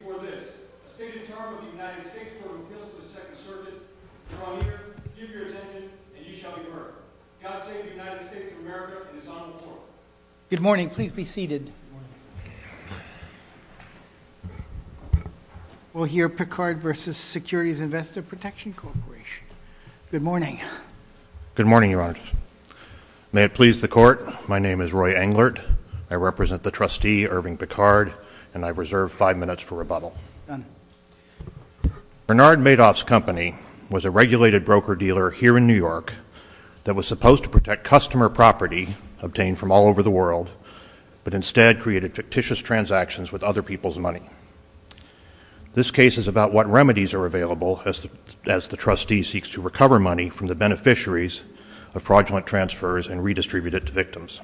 Good morning, Your Honor. May it please the Court, my name is Roy Englert. I represent the trustee, Irving Picard, and I've reserved five minutes for rebuttal. Bernard Madoff's company was a regulated broker-dealer here in New York that was supposed to protect customer property obtained from all over the world, but instead created fictitious transactions with other people's money. This case is about what remedies are available as the trustee seeks to recover money from the beneficiaries of fraudulent transfers and redistribute it to victims.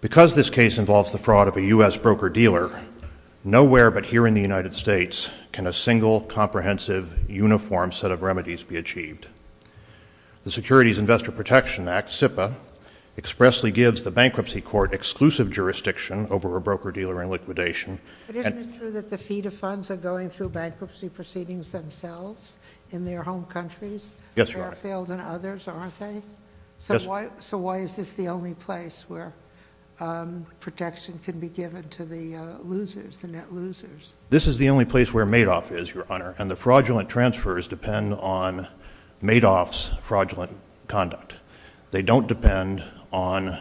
Because this case involves the fraud of a U.S. broker-dealer, nowhere but here in the United States can a single comprehensive uniform set of remedies be achieved. The Securities Investor Protection Act, SIPA, expressly gives the bankruptcy court exclusive jurisdiction over a broker-dealer in liquidation. But isn't it true that the feed of funds are going through bankruptcy proceedings themselves in their home countries? Yes, Your Honor. And that's Fairfield and others, aren't they? Yes. So why is this the only place where protection can be given to the losers, the net losers? This is the only place where Madoff is, Your Honor, and the fraudulent transfers depend on Madoff's fraudulent conduct. They don't depend on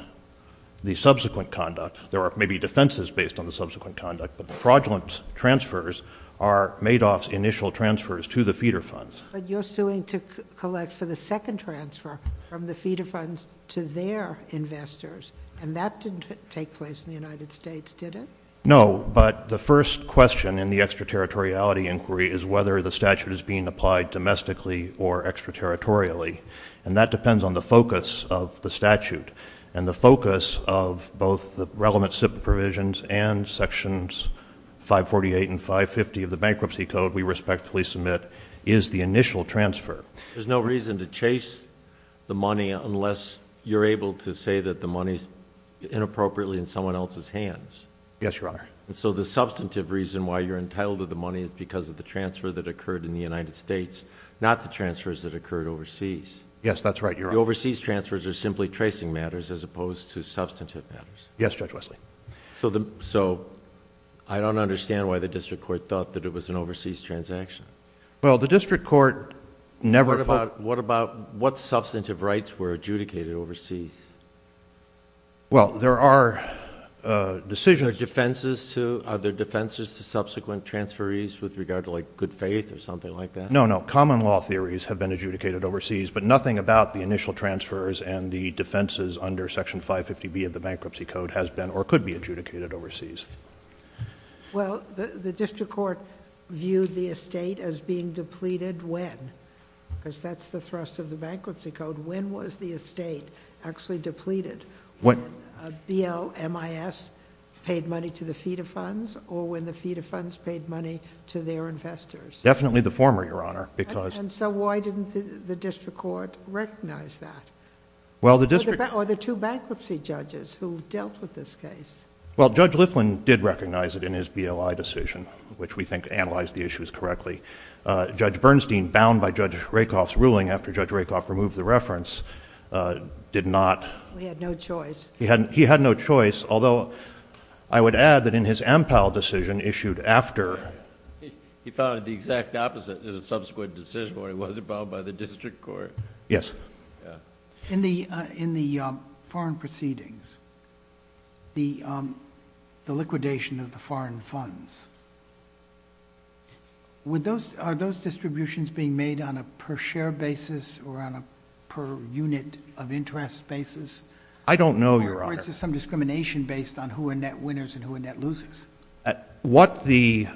the subsequent conduct. There are maybe defenses based on the subsequent conduct, but the fraudulent transfers are Madoff's initial transfers to the feeder funds. But you're suing to collect for the second transfer from the feeder funds to their investors, and that didn't take place in the United States, did it? No, but the first question in the extraterritoriality inquiry is whether the statute is being applied domestically or extraterritorially, and that depends on the focus of the statute. And the focus of both the relevant SIPA provisions and Sections 548 and 550 of the Bankruptcy Code, we respectfully submit, is the initial transfer. There's no reason to chase the money unless you're able to say that the money's inappropriately in someone else's hands. Yes, Your Honor. And so the substantive reason why you're entitled to the money is because of the transfer that occurred in the United States, not the transfers that occurred overseas. Yes, that's right, Your Honor. The overseas transfers are simply tracing matters as opposed to substantive matters. Yes, Judge Wesley. So I don't understand why the District Court thought that it was an overseas transaction. Well, the District Court... What about what substantive rights were adjudicated overseas? Well, there are decisions... Are there defenses to subsequent transferees with regard to, like, good faith or something like that? No, no. Common law theories have been adjudicated overseas, but nothing about the initial transfer could be adjudicated overseas. Well, the District Court viewed the estate as being depleted when? Because that's the thrust of the Bankruptcy Code. When was the estate actually depleted? When BLMIS paid money to the feeder funds or when the feeder funds paid money to their investors? Definitely the former, Your Honor, because... And so why didn't the District Court recognize that? Well, the District... Or the two bankruptcy judges who dealt with this case. Well, Judge Liflin did recognize it in his BLI decision, which we think analyzed the issues correctly. Judge Bernstein, bound by Judge Rakoff's ruling after Judge Rakoff removed the reference, did not... He had no choice. He had no choice, although I would add that in his Ampel decision issued after... He found it the exact opposite as a subsequent decision, where it wasn't bound by the District Court. Yes. In the foreign proceedings, the liquidation of the foreign funds, are those distributions being made on a per-share basis or on a per-unit of interest basis? I don't know, Your Honor. Or is this some discrimination based on who are net winners and who are net losers? What the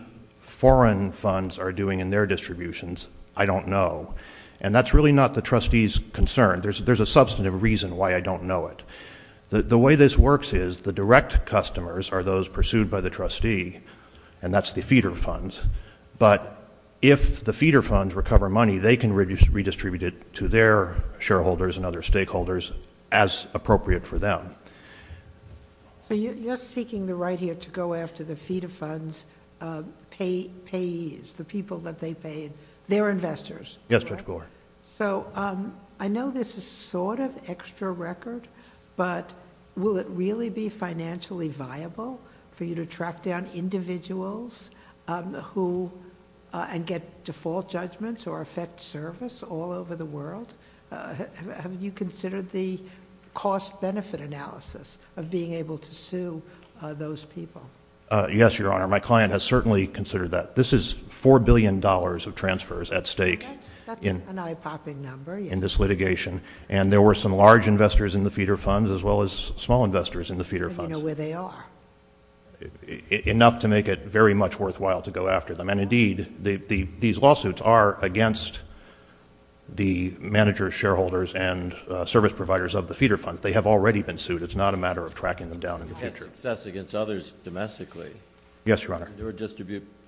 foreign funds are doing in their distributions, I don't know. And that's really not the trustee's concern. There's a substantive reason why I don't know it. The way this works is, the direct customers are those pursued by the trustee, and that's the feeder funds. But if the feeder funds recover money, they can redistribute it to their shareholders and other stakeholders as appropriate for them. You're seeking the right here to go after the feeder funds payees, the people that they paid, their investors. Yes, Judge Gore. I know this is sort of extra record, but will it really be financially viable for you to track down individuals who... and get default judgments or affect service all over the world? Have you considered the cost-benefit analysis of being able to sue those people? Yes, Your Honor. My client has certainly considered that. This is $4 billion of transfers at stake... That's an eye-popping number... in this litigation, and there were some large investors in the feeder funds as well as small investors in the feeder funds. And you know where they are. Enough to make it very much worthwhile to go after them, and indeed, these lawsuits are against the managers, shareholders, and service providers of the feeder funds. They have already been sued. It's not a matter of tracking them down in the future. You've had success against others domestically. Yes, Your Honor.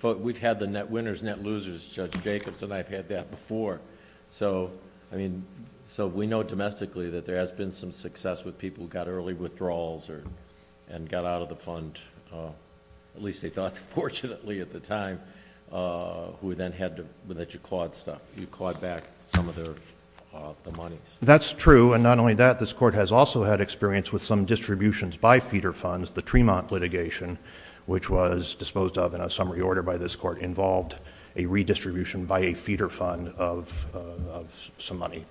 We've had the net winners, net losers, Judge Jacobson, I've had that before. So we know domestically that there has been some success with people who got early withdrawals and got out of the fund, at least they thought fortunately at the time, who then had to... that you clawed back some of the monies. That's true, and not only that, this court has also had experience with some distributions by feeder funds. The Tremont litigation, which was disposed of in a summary order by this court, involved a redistribution by a feeder fund of some money.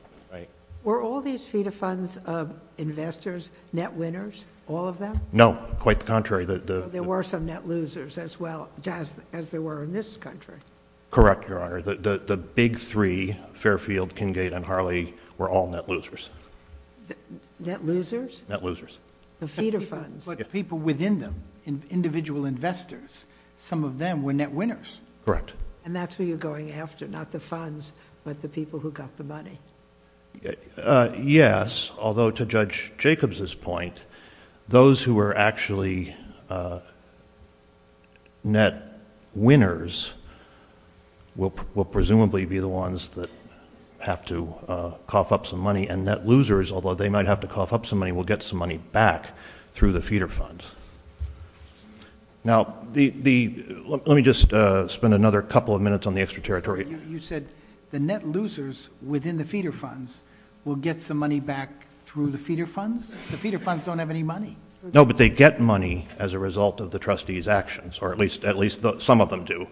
Were all these feeder funds investors, net winners, all of them? No, quite the contrary. There were some net losers as well, just as there were in this country. Correct, Your Honor. The big three, Fairfield, Kingate, and Harley, were all net losers. Net losers? Net losers. The feeder funds. But people within them, individual investors, some of them were net winners. Correct. That's who you're going after, not the funds, but the people who got the money? Yes, although to Judge Jacobs' point, those who were actually net winners will presumably be the ones that have to cough up some money, and net losers, although they might have to cough up some money, will get some money back through the feeder funds. Now, let me just spend another couple of minutes on the extra territory. You said the net losers within the feeder funds will get some money back through the feeder funds? The feeder funds don't have any money. No, but they get money as a result of the trustees' actions, or at least some of them do.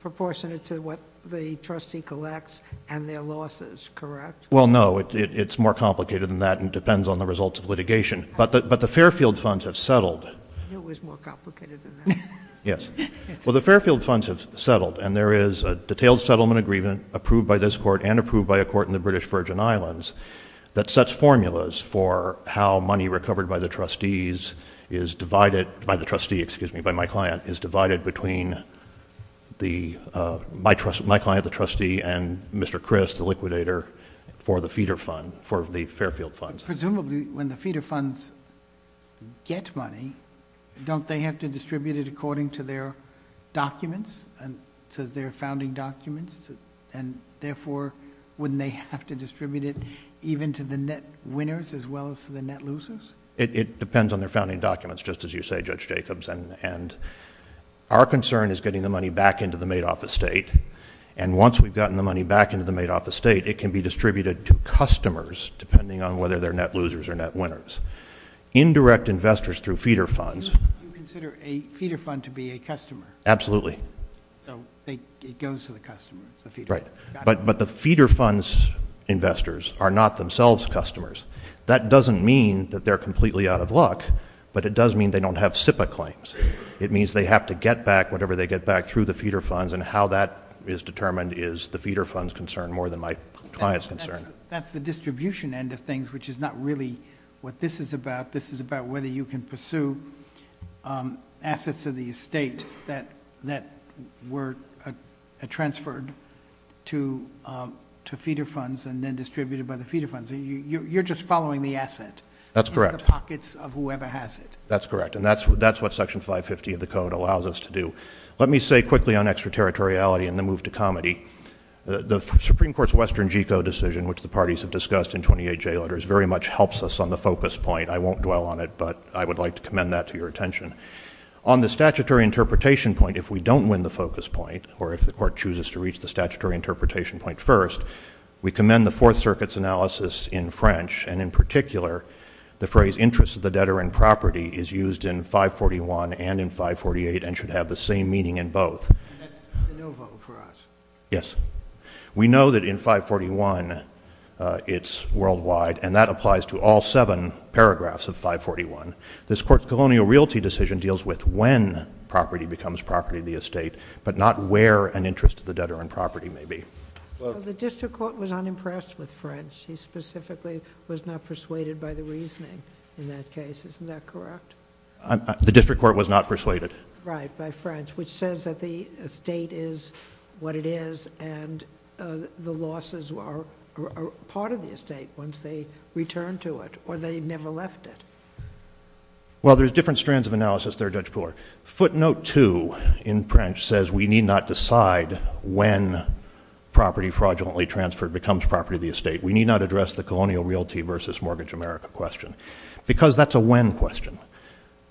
Proportionate to what the trustee collects and their losses, correct? Well, no. It's more complicated than that, and it depends on the results of litigation, but the Fairfield funds have settled. I knew it was more complicated than that. Yes. Well, the Fairfield funds have settled, and there is a detailed settlement agreement approved by this court and approved by a court in the British Virgin Islands that sets formulas for how money recovered by the trustees is divided... by the trustee, excuse me, by my client, is divided between my client, the trustee, and Mr. Chris, the liquidator, for the feeder fund, for the Fairfield funds. Presumably, when the feeder funds get money, don't they have to distribute it according to their documents, to their founding documents, and therefore, wouldn't they have to distribute it even to the net winners as well as to the net losers? It depends on their founding documents, just as you say, Judge Jacobs. Our concern is getting the money back into the made-off estate, and once we've gotten the money back into the made-off estate, it can be distributed to customers, depending on whether they're net losers or net winners. Indirect investors through feeder funds... Do you consider a feeder fund to be a customer? Absolutely. So it goes to the customer, the feeder fund? Right. But the feeder funds investors are not themselves customers. That doesn't mean that they're completely out of luck, but it does mean they don't have SIPA claims. It means they have to get back whatever they get back through the feeder funds, and how that is determined is the feeder fund's concern more than my client's concern. That's the distribution end of things, which is not really what this is about, whether you can pursue assets of the estate that were transferred to feeder funds and then distributed by the feeder funds. You're just following the asset... That's correct.... into the pockets of whoever has it. That's correct, and that's what Section 550 of the Code allows us to do. Let me say quickly on extraterritoriality and the move to comedy. The Supreme Court's Western GECO decision, which the parties have discussed in twenty-eight jail orders, very much helps us on the focus point. I won't dwell on it, but I would like to commend that to your attention. On the statutory interpretation point, if we don't win the focus point, or if the Court chooses to reach the statutory interpretation point first, we commend the Fourth Circuit's analysis in French, and in particular the phrase interest of the debtor in property is used in 541 and in 548 and should have the same meaning in both. That's de novo for us. Yes. We know that in 541 it's worldwide, and that applies to all seven paragraphs of 541. This Court's colonial realty decision deals with when property becomes property of the estate, but not where an interest of the debtor in property may be. Well, the district court was unimpressed with French. He specifically was not persuaded by the reasoning in that case. Isn't that correct? The district court was not persuaded. Right, by French, which says that the estate is what it is, and the losses are part of the estate once they return to it, or they never left it. Well, there's different strands of analysis there, Judge Pooler. Footnote 2 in French says we need not decide when property fraudulently transferred becomes property of the estate. We need not address the colonial realty versus mortgage America question, because that's a when question.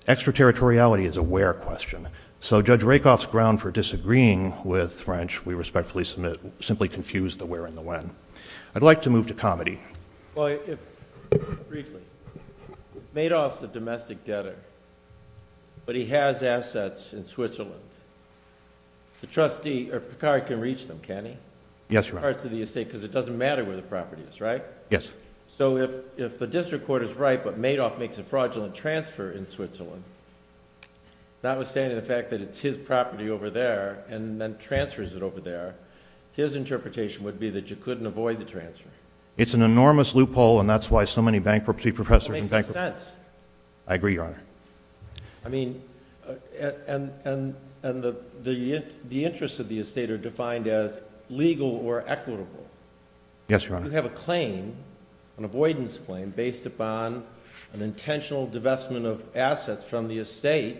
Extraterritoriality is a where question. So Judge Rakoff's ground for disagreeing with French, we respectfully simply confuse the where and the when. I'd like to move to comedy. Well, briefly, Madoff's a domestic debtor, but he has assets in Switzerland. The trustee... or Picard can reach them, can't he? Yes, Your Honor. Parts of the estate, because it doesn't matter where the property is, right? Yes. So if the district court is right, but Madoff makes a fraudulent transfer in Switzerland, notwithstanding the fact that it's his property over there, and then transfers it over there, his interpretation would be that you couldn't avoid the transfer. It's an enormous loophole, and that's why so many bankruptcy professors... That makes no sense. I agree, Your Honor. I mean, and the interests of the estate are defined as legal or equitable. Yes, Your Honor. You have a claim, an avoidance claim, based upon an intentional divestment of assets from the estate,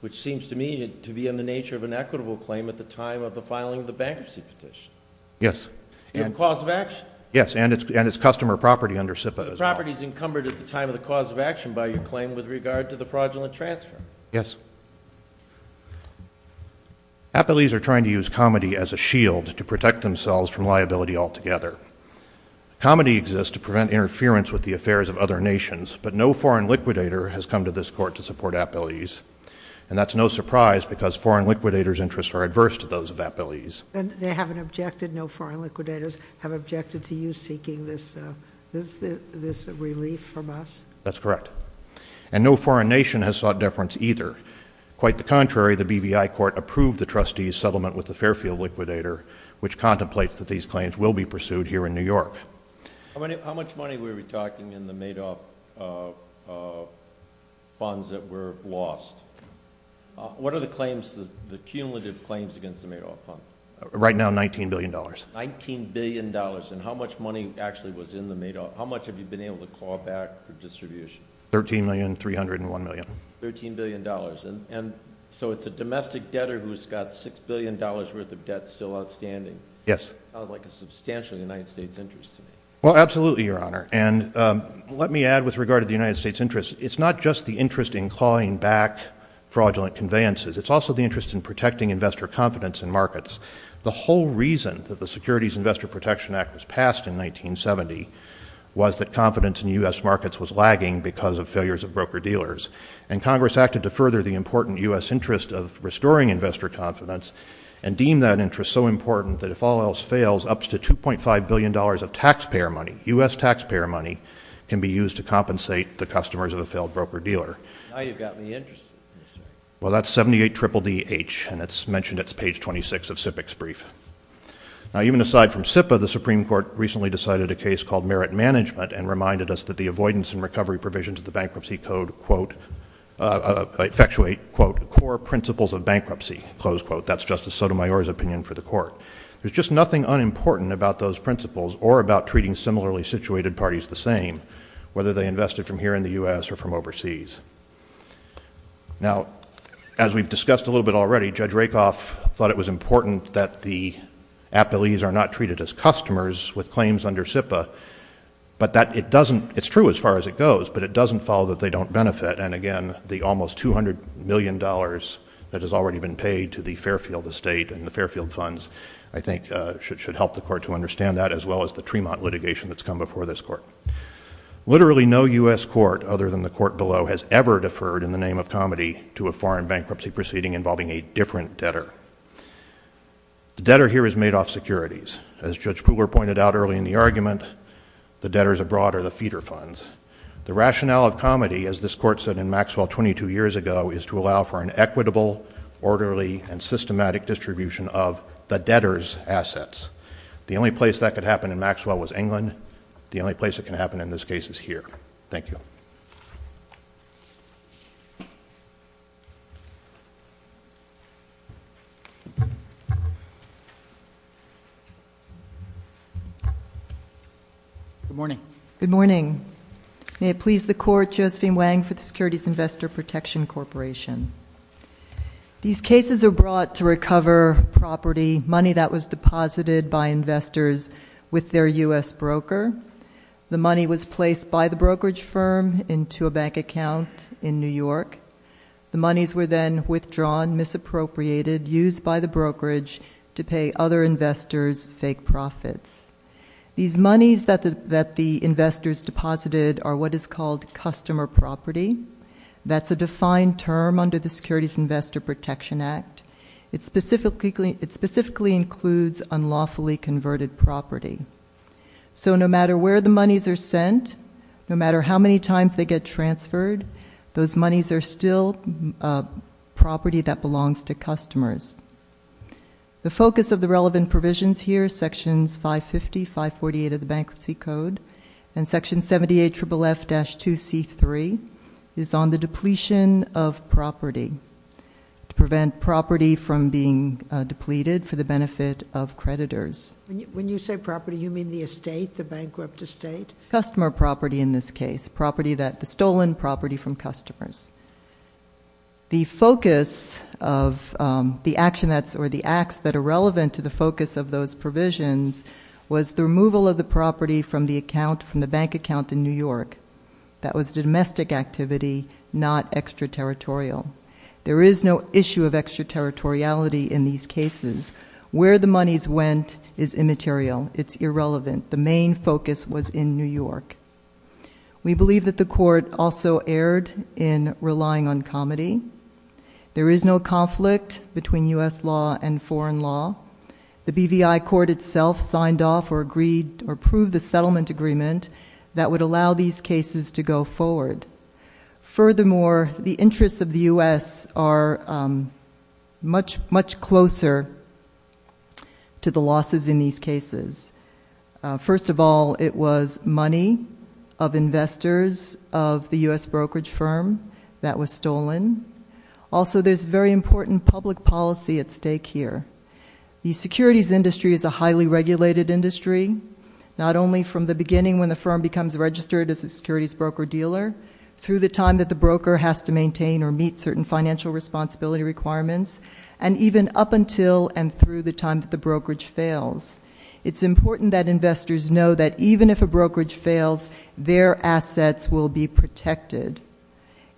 which seems to me to be in the nature of an equitable claim at the time of the filing of the bankruptcy petition. Yes. And cause of action. Yes. And it's customer property under SIPA as well. Property is encumbered at the time of the cause of action by your claim with regard to the fraudulent transfer. Yes. Appellees are trying to use comedy as a shield to protect themselves from liability altogether. Comedy exists to prevent interference with the affairs of other nations, but no foreign liquidator has come to this Court to support appellees. And that's no surprise, because foreign liquidators' interests are adverse to those of appellees. And they haven't objected? No foreign liquidators have objected to you seeking this relief from us? That's correct. And no foreign nation has sought deference either. Quite the contrary, the BVI Court approved the trustee's settlement with the Fairfield liquidator, which contemplates that these claims will be pursued here in New York. How much money were we talking in the Madoff funds that were lost? What are the claims, the cumulative claims against the Madoff fund? Right now, $19 billion. $19 billion. And how much money actually was in the Madoff? How much have you been able to claw back for distribution? $13,301,000,000. $13,000,000,000. And so it's a domestic debtor who's got $6,000,000,000 worth of debt still outstanding? Yes. That sounds like a substantial United States interest to me. Well, absolutely, Your Honor. And let me add with regard to the United States interest. It's not just the interest in clawing back fraudulent conveyances. It's also the interest in protecting investor confidence in markets. The whole reason that the Securities Investor Protection Act was passed in 1970 was that confidence in U.S. markets was lagging because of failures of broker-dealers. And Congress acted to further the important U.S. interest of restoring investor confidence and deem that interest so important that if all else fails, up to $2.5 billion of taxpayer money, U.S. taxpayer money, can be used to compensate the customers of a failed broker-dealer. Now you've got me interested, Mr. Well, that's 78 Triple D-H, and it's mentioned it's page 26 of SIPC's brief. Now, even aside from SIPA, the Supreme Court recently decided a case called Merit Management and reminded us that the avoidance and recovery provisions of the proposed quote, that's Justice Sotomayor's opinion for the court. There's just nothing unimportant about those principles or about treating similarly situated parties the same, whether they invested from here in the U.S. or from overseas. Now, as we've discussed a little bit already, Judge Rakoff thought it was important that the appellees are not treated as customers with claims under SIPA, but that it doesn't, it's true as far as it goes, but it doesn't follow that they don't The rationale of comedy, as this Court said in Maxwell 22 years ago, is to allow for an equitable, orderly, and systematic distribution of the debtor's assets. The only place that could happen in Maxwell was England. The only place it can happen in this case is here. Thank you. Good morning. Good morning. May it please the Court, Josephine Wang for the Securities Investor Protection Corporation. These cases are brought to recover property, money that was deposited by investors with their U.S. broker. The money was placed by the brokerage firm into a bank account in New York. The monies were then withdrawn, misappropriated, used by the brokerage to pay other investors fake profits. These monies that the investors deposited are what is called customer property. That's a defined term under the Securities Investor Protection Act. It specifically includes unlawfully converted property. So no matter where the monies are sent, no matter how many times they get transferred, those monies are still property that belongs to customers. The focus of the relevant provisions here, Sections 550, 548 of the Bankruptcy Code, and Section 78FFF-2C3 is on the depletion of property. To prevent property from being depleted for the benefit of creditors. When you say property, you mean the estate, the bankrupt estate? Customer property in this case, property that, the stolen property from customers. The focus of the action that's, or the acts that are relevant to the focus of those provisions was the removal of the property from the account, from the bank account in New York. That was domestic activity, not extraterritorial. There is no issue of extraterritoriality in these cases. Where the monies went is immaterial, it's irrelevant. The main focus was in New York. We believe that the court also erred in relying on comedy. There is no conflict between US law and foreign law. The BVI court itself signed off or approved the settlement agreement that would allow these cases to go forward. Furthermore, the interests of the US are much, much closer to the losses in these cases. First of all, it was money of investors of the US brokerage firm that was stolen. Also, there's very important public policy at stake here. The securities industry is a highly regulated industry. Not only from the beginning when the firm becomes registered as a securities broker dealer, through the time that the broker has to maintain or meet certain financial responsibility requirements. And even up until and through the time that the brokerage fails. It's important that investors know that even if a brokerage fails, their assets will be protected.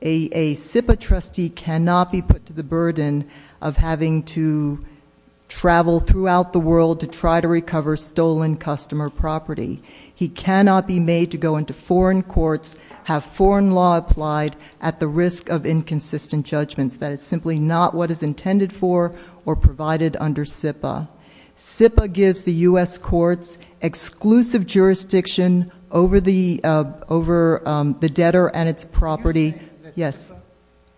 A SIPA trustee cannot be put to the burden of having to travel throughout the world to try to recover stolen customer property. He cannot be made to go into foreign courts, have foreign law applied at the risk of inconsistent judgments. That is simply not what is intended for or provided under SIPA. SIPA gives the US courts exclusive jurisdiction over the debtor and its property. Yes.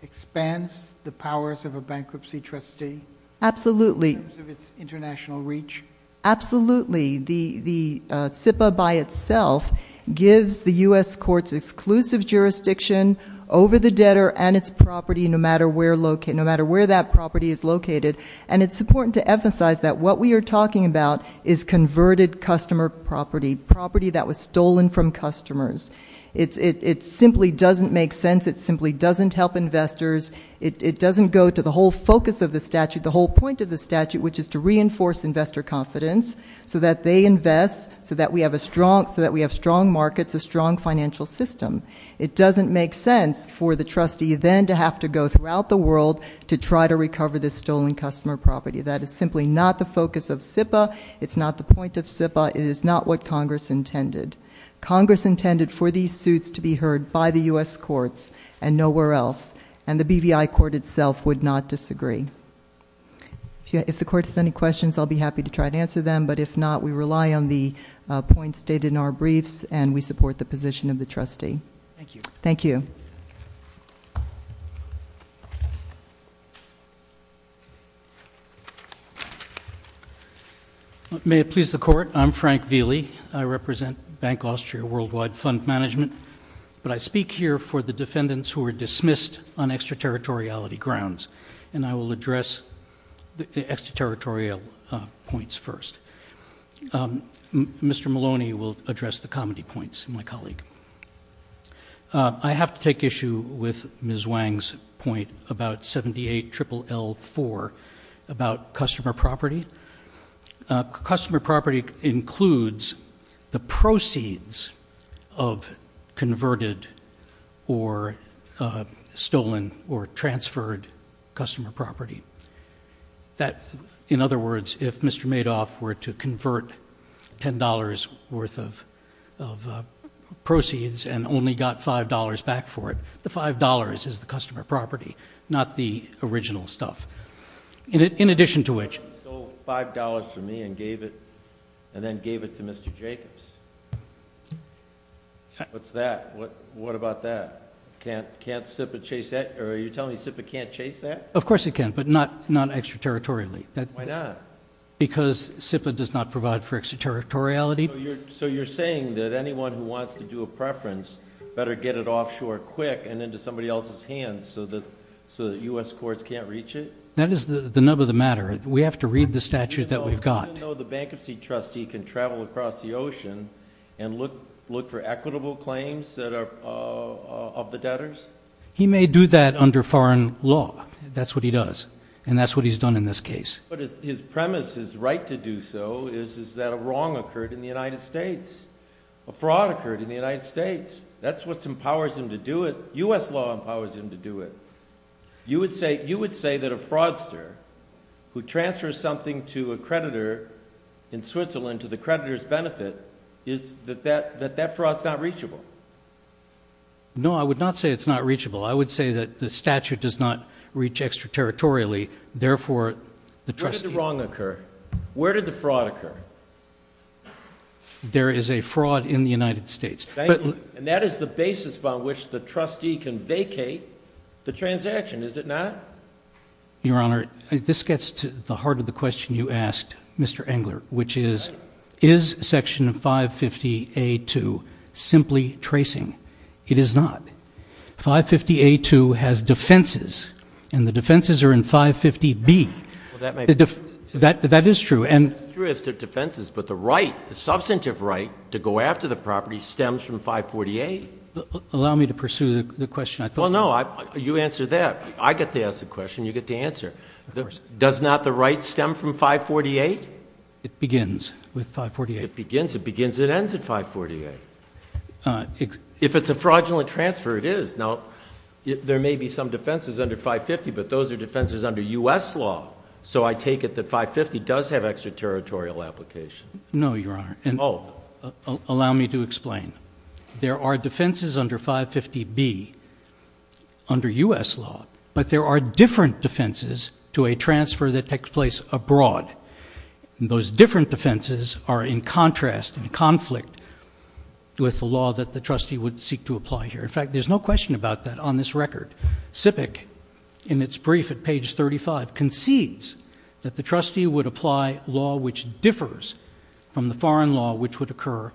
Expands the powers of a bankruptcy trustee. Absolutely. In terms of its international reach. Absolutely. The SIPA by itself gives the US courts exclusive jurisdiction over the debtor and its property no matter where that property is located. And it's important to emphasize that what we are talking about is converted customer property, property that was stolen from customers. It simply doesn't make sense. It simply doesn't help investors. It doesn't go to the whole focus of the statute, the whole point of the statute, which is to reinforce investor confidence. So that they invest, so that we have strong markets, a strong financial system. It doesn't make sense for the trustee then to have to go throughout the world to try to recover the stolen customer property. That is simply not the focus of SIPA. It's not the point of SIPA. It is not what Congress intended. Congress intended for these suits to be heard by the US courts and nowhere else. And the BVI court itself would not disagree. If the court has any questions, I'll be happy to try to answer them. But if not, we rely on the points stated in our briefs and we support the position of the trustee. Thank you. Thank you. May it please the court, I'm Frank Vili. I represent Bank Austria Worldwide Fund Management. But I speak here for the defendants who were dismissed on extraterritoriality grounds. And I will address the extraterritorial points first. Mr. Maloney will address the comedy points, my colleague. I have to take issue with Ms. Wang's point about 78-LLL-4 about customer property. Customer property includes the proceeds of converted or stolen or customer property that, in other words, if Mr. Madoff were to convert $10 worth of proceeds and only got $5 back for it, the $5 is the customer property, not the original stuff. In addition to which- He stole $5 from me and gave it, and then gave it to Mr. Jacobs. What's that? What about that? Can't SIPA chase that, or are you telling me SIPA can't chase that? Of course it can, but not extraterritorially. Why not? Because SIPA does not provide for extraterritoriality. So you're saying that anyone who wants to do a preference better get it offshore quick and into somebody else's hands so that US courts can't reach it? That is the nub of the matter. We have to read the statute that we've got. Even though the bankruptcy trustee can travel across the ocean and look for equitable claims of the debtors? He may do that under foreign law. That's what he does, and that's what he's done in this case. But his premise, his right to do so, is that a wrong occurred in the United States. A fraud occurred in the United States. That's what empowers him to do it. US law empowers him to do it. You would say that a fraudster who transfers something to a creditor in Switzerland to the creditor's benefit, is that that fraud's not reachable? No, I would not say it's not reachable. I would say that the statute does not reach extraterritorially. Therefore, the trustee- Where did the wrong occur? Where did the fraud occur? There is a fraud in the United States. And that is the basis by which the trustee can vacate the transaction, is it not? Your Honor, this gets to the heart of the question you asked, Mr. Engler, which is, is section 550A2 simply tracing? It is not. 550A2 has defenses, and the defenses are in 550B. That is true, and- It's true it has defenses, but the right, the substantive right to go after the property stems from 548. Allow me to pursue the question, I thought- Well, no, you answer that. I get to ask the question, you get to answer. Does not the right stem from 548? It begins with 548. It begins, it begins, it ends at 548. If it's a fraudulent transfer, it is. Now, there may be some defenses under 550, but those are defenses under US law. So I take it that 550 does have extraterritorial application. No, Your Honor. Allow me to explain. There are defenses under 550B under US law, but there are different defenses to a transfer that takes place abroad. And those different defenses are in contrast and conflict with the law that the trustee would seek to apply here. In fact, there's no question about that on this record. SIPC, in its brief at page 35, concedes that the trustee would apply law which differs from the foreign law which would occur,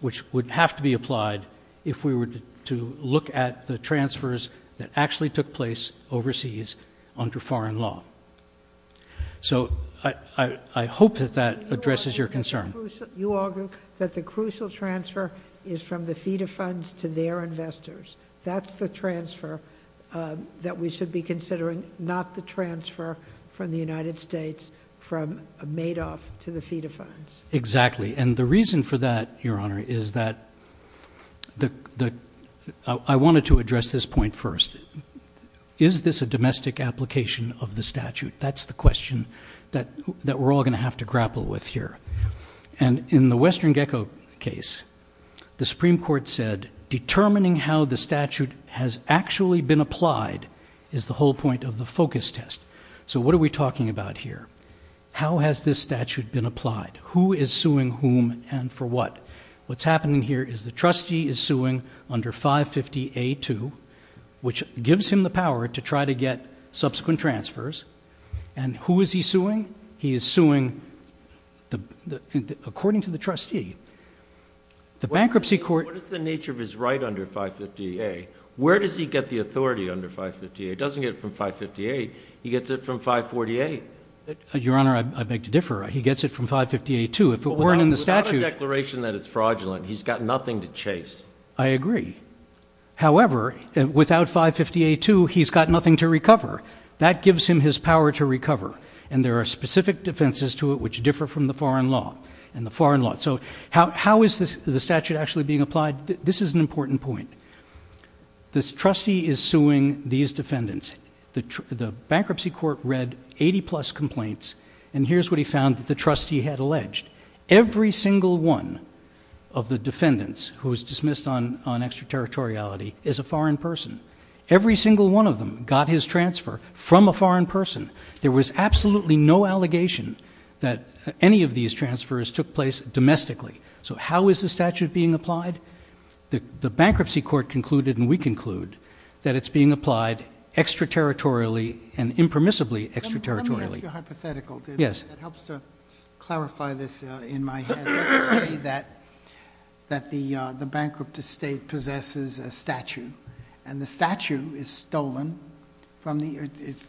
which would have to be applied if we were to look at the transfers that actually took place overseas under foreign law. So I hope that that addresses your concern. You argue that the crucial transfer is from the FEDA funds to their investors. That's the transfer that we should be considering, not the transfer from the United States from Madoff to the FEDA funds. Exactly, and the reason for that, Your Honor, is that I wanted to address this point first. Is this a domestic application of the statute? That's the question that we're all going to have to grapple with here. And in the Western Gecko case, the Supreme Court said, determining how the statute has actually been applied is the whole point of the focus test. So what are we talking about here? How has this statute been applied? Who is suing whom and for what? What's happening here is the trustee is suing under 550A2, which gives him the power to try to get subsequent transfers. And who is he suing? He is suing, according to the trustee, the bankruptcy court- which is right under 550A. Where does he get the authority under 550A? He doesn't get it from 550A. He gets it from 548. Your Honor, I beg to differ. He gets it from 550A2. If it weren't in the statute- Without a declaration that it's fraudulent, he's got nothing to chase. I agree. However, without 550A2, he's got nothing to recover. That gives him his power to recover. And there are specific defenses to it which differ from the foreign law and the foreign law. So how is the statute actually being applied? This is an important point. The trustee is suing these defendants. The bankruptcy court read 80-plus complaints, and here's what he found that the trustee had alleged. Every single one of the defendants who was dismissed on extraterritoriality is a foreign person. Every single one of them got his transfer from a foreign person. There was absolutely no allegation that any of these transfers took place domestically. So how is the statute being applied? The bankruptcy court concluded, and we conclude, that it's being applied extraterritorially and impermissibly extraterritorially. Let me ask you a hypothetical. Yes. It helps to clarify this in my head. Let's say that the bankrupt estate possesses a statue, and the statue is stolen from the-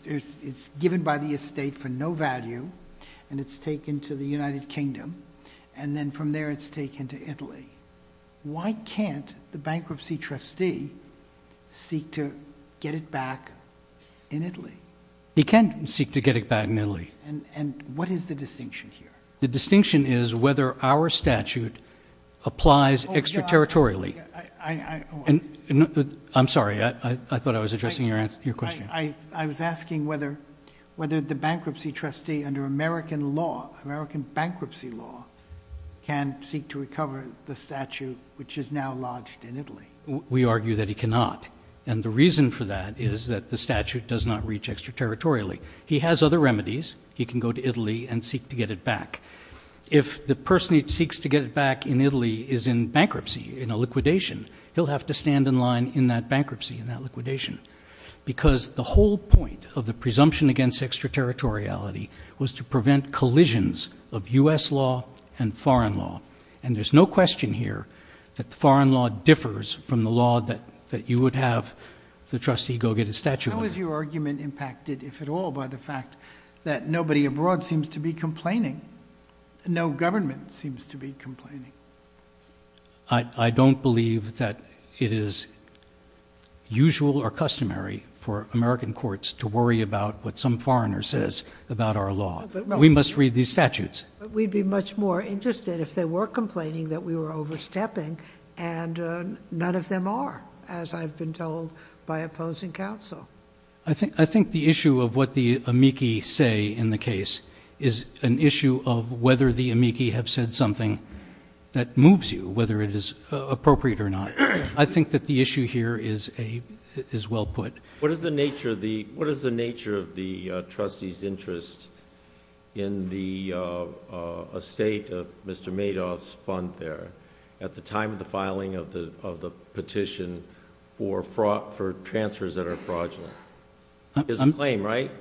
it's given by the estate for no value, and it's taken to the United Kingdom. And then from there, it's taken to Italy. Why can't the bankruptcy trustee seek to get it back in Italy? He can seek to get it back in Italy. And what is the distinction here? The distinction is whether our statute applies extraterritorially. I- I- I- I'm sorry, I thought I was addressing your question. I- I was asking whether- whether the bankruptcy trustee, under American law, American bankruptcy law, can seek to recover the statue, which is now lodged in Italy. We argue that he cannot. And the reason for that is that the statute does not reach extraterritorially. He has other remedies. He can go to Italy and seek to get it back. If the person he seeks to get it back in Italy is in bankruptcy, in a liquidation, he'll have to stand in line in that bankruptcy, in that liquidation. Because the whole point of the presumption against extraterritoriality was to prevent collisions of U.S. law and foreign law. And there's no question here that the foreign law differs from the law that- that you would have the trustee go get a statue. How is your argument impacted, if at all, by the fact that nobody abroad seems to be complaining? No government seems to be complaining. I- I don't believe that it is usual or customary for American courts to worry about what some foreigner says about our law. But we must read these statutes. But we'd be much more interested if they were complaining that we were overstepping. And, uh, none of them are, as I've been told by opposing counsel. I think- I think the issue of what the amici say in the case is an issue of whether the amici have said something that moves you, whether it is, uh, appropriate or not. I think that the issue here is a- is well put. What is the nature of the- what is the nature of the, uh, trustee's interest in the, uh, uh, estate of Mr. Madoff's fund there at the time of the filing of the- of the petition for frau- for transfers that are fraudulent? I'm- He has a claim, right?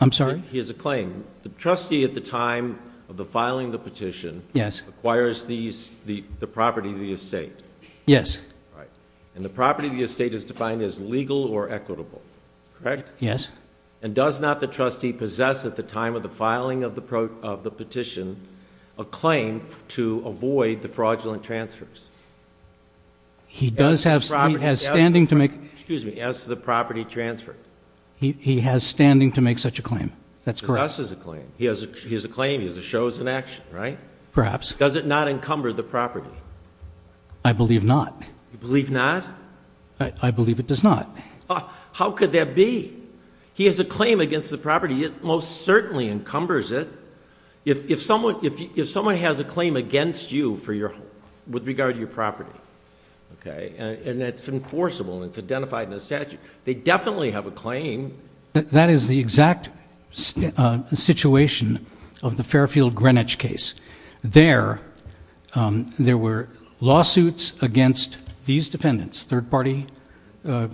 I'm sorry? He has a claim. The trustee at the time of the filing of the petition- Yes. Acquires these- the- the property of the estate. Yes. Right. And the property of the estate is defined as legal or equitable, correct? Yes. And does not the trustee possess at the time of the filing of the pro- of the petition a claim to avoid the fraudulent transfers? He does have- As the property- He has standing to make- Excuse me. As the property transfer. He- he has standing to make such a claim. That's correct. He possesses a claim. He has a- he has a claim. He has a show as an action, right? Perhaps. Does it not encumber the property? I believe not. You believe not? I- I believe it does not. Ah, how could that be? He has a claim against the property. It most certainly encumbers it. If- if someone- if- if someone has a claim against you for your- with regard to your property, okay, and- and it's enforceable and it's identified in the statute, they definitely have a claim. That is the exact s- situation of the Fairfield Greenwich case. There, um, there were lawsuits against these defendants, third party, uh,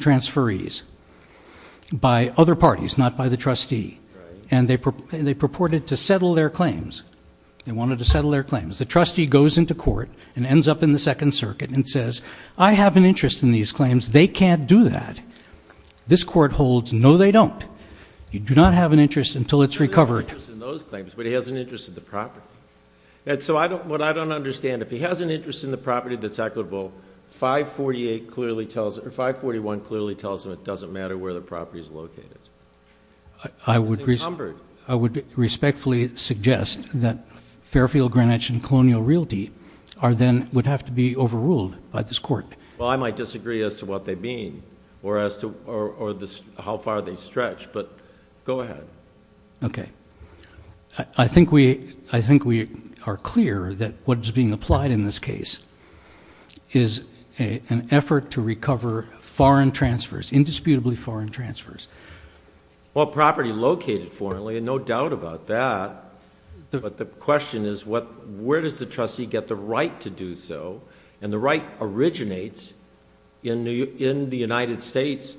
transferees, by other parties, not by the trustee. And they pur- they purported to settle their claims. They wanted to settle their claims. The trustee goes into court and ends up in the second circuit and says, I have an interest in these claims. They can't do that. This court holds, no they don't. You do not have an interest until it's recovered. He has an interest in those claims, but he has an interest in the property. And so I don't- what I don't understand, if he has an interest in the property that's equitable, 548 clearly tells him- or 541 clearly tells him it doesn't matter where the property is located. I would- It's encumbered. I would respectfully suggest that Fairfield Greenwich and Colonial Realty are then- would have to be overruled by this court. Well, I might disagree as to what they mean or as to- or, or the- how far they stretch, but go ahead. Okay. I think we, I think we are clear that what is being applied in this case is a, an effort to recover foreign transfers, indisputably foreign transfers. Well, property located foreignly, and no doubt about that, but the question is what, where does the trustee get the right to do so? And the right originates in New York, in the United States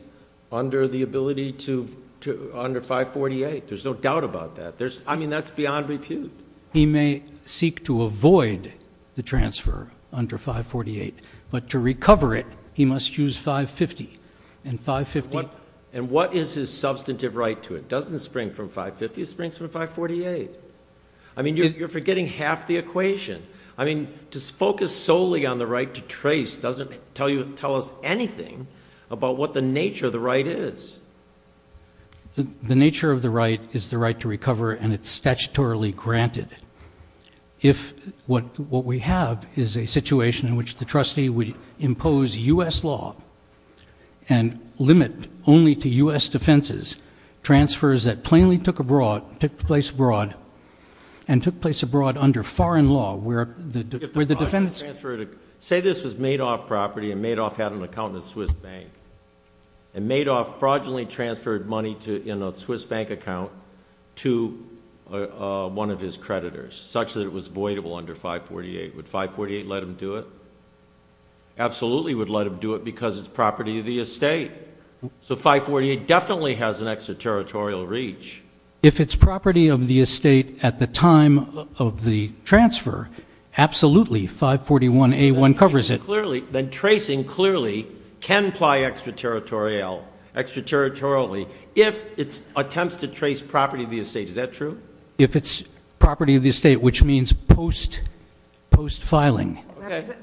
under the ability to, to, under 548, there's no doubt about that. There's, I mean, that's beyond repute. He may seek to avoid the transfer under 548, but to recover it, he must use 550. And 550- And what is his substantive right to it? It doesn't spring from 550, it springs from 548. I mean, you're forgetting half the equation. I mean, just focus solely on the right to trace doesn't tell you, tell us anything about what the nature of the right is. The nature of the right is the right to recover and it's statutorily granted. If what, what we have is a situation in which the trustee would impose U.S. law and limit only to U.S. defenses, transfers that plainly took abroad, took place abroad and took place abroad under foreign law where the, where the defendants- Say this was Madoff property and Madoff had an account in the Swiss bank and Madoff fraudulently transferred money to, in a Swiss bank account to one of his creditors such that it was voidable under 548. Would 548 let him do it? Absolutely would let him do it because it's property of the estate. So 548 definitely has an extraterritorial reach. If it's property of the estate at the time of the transfer, absolutely. 541A1 covers it. Clearly, then tracing clearly can apply extraterritorial, extraterritorially if it's attempts to trace property of the estate. Is that true? If it's property of the estate, which means post, post filing.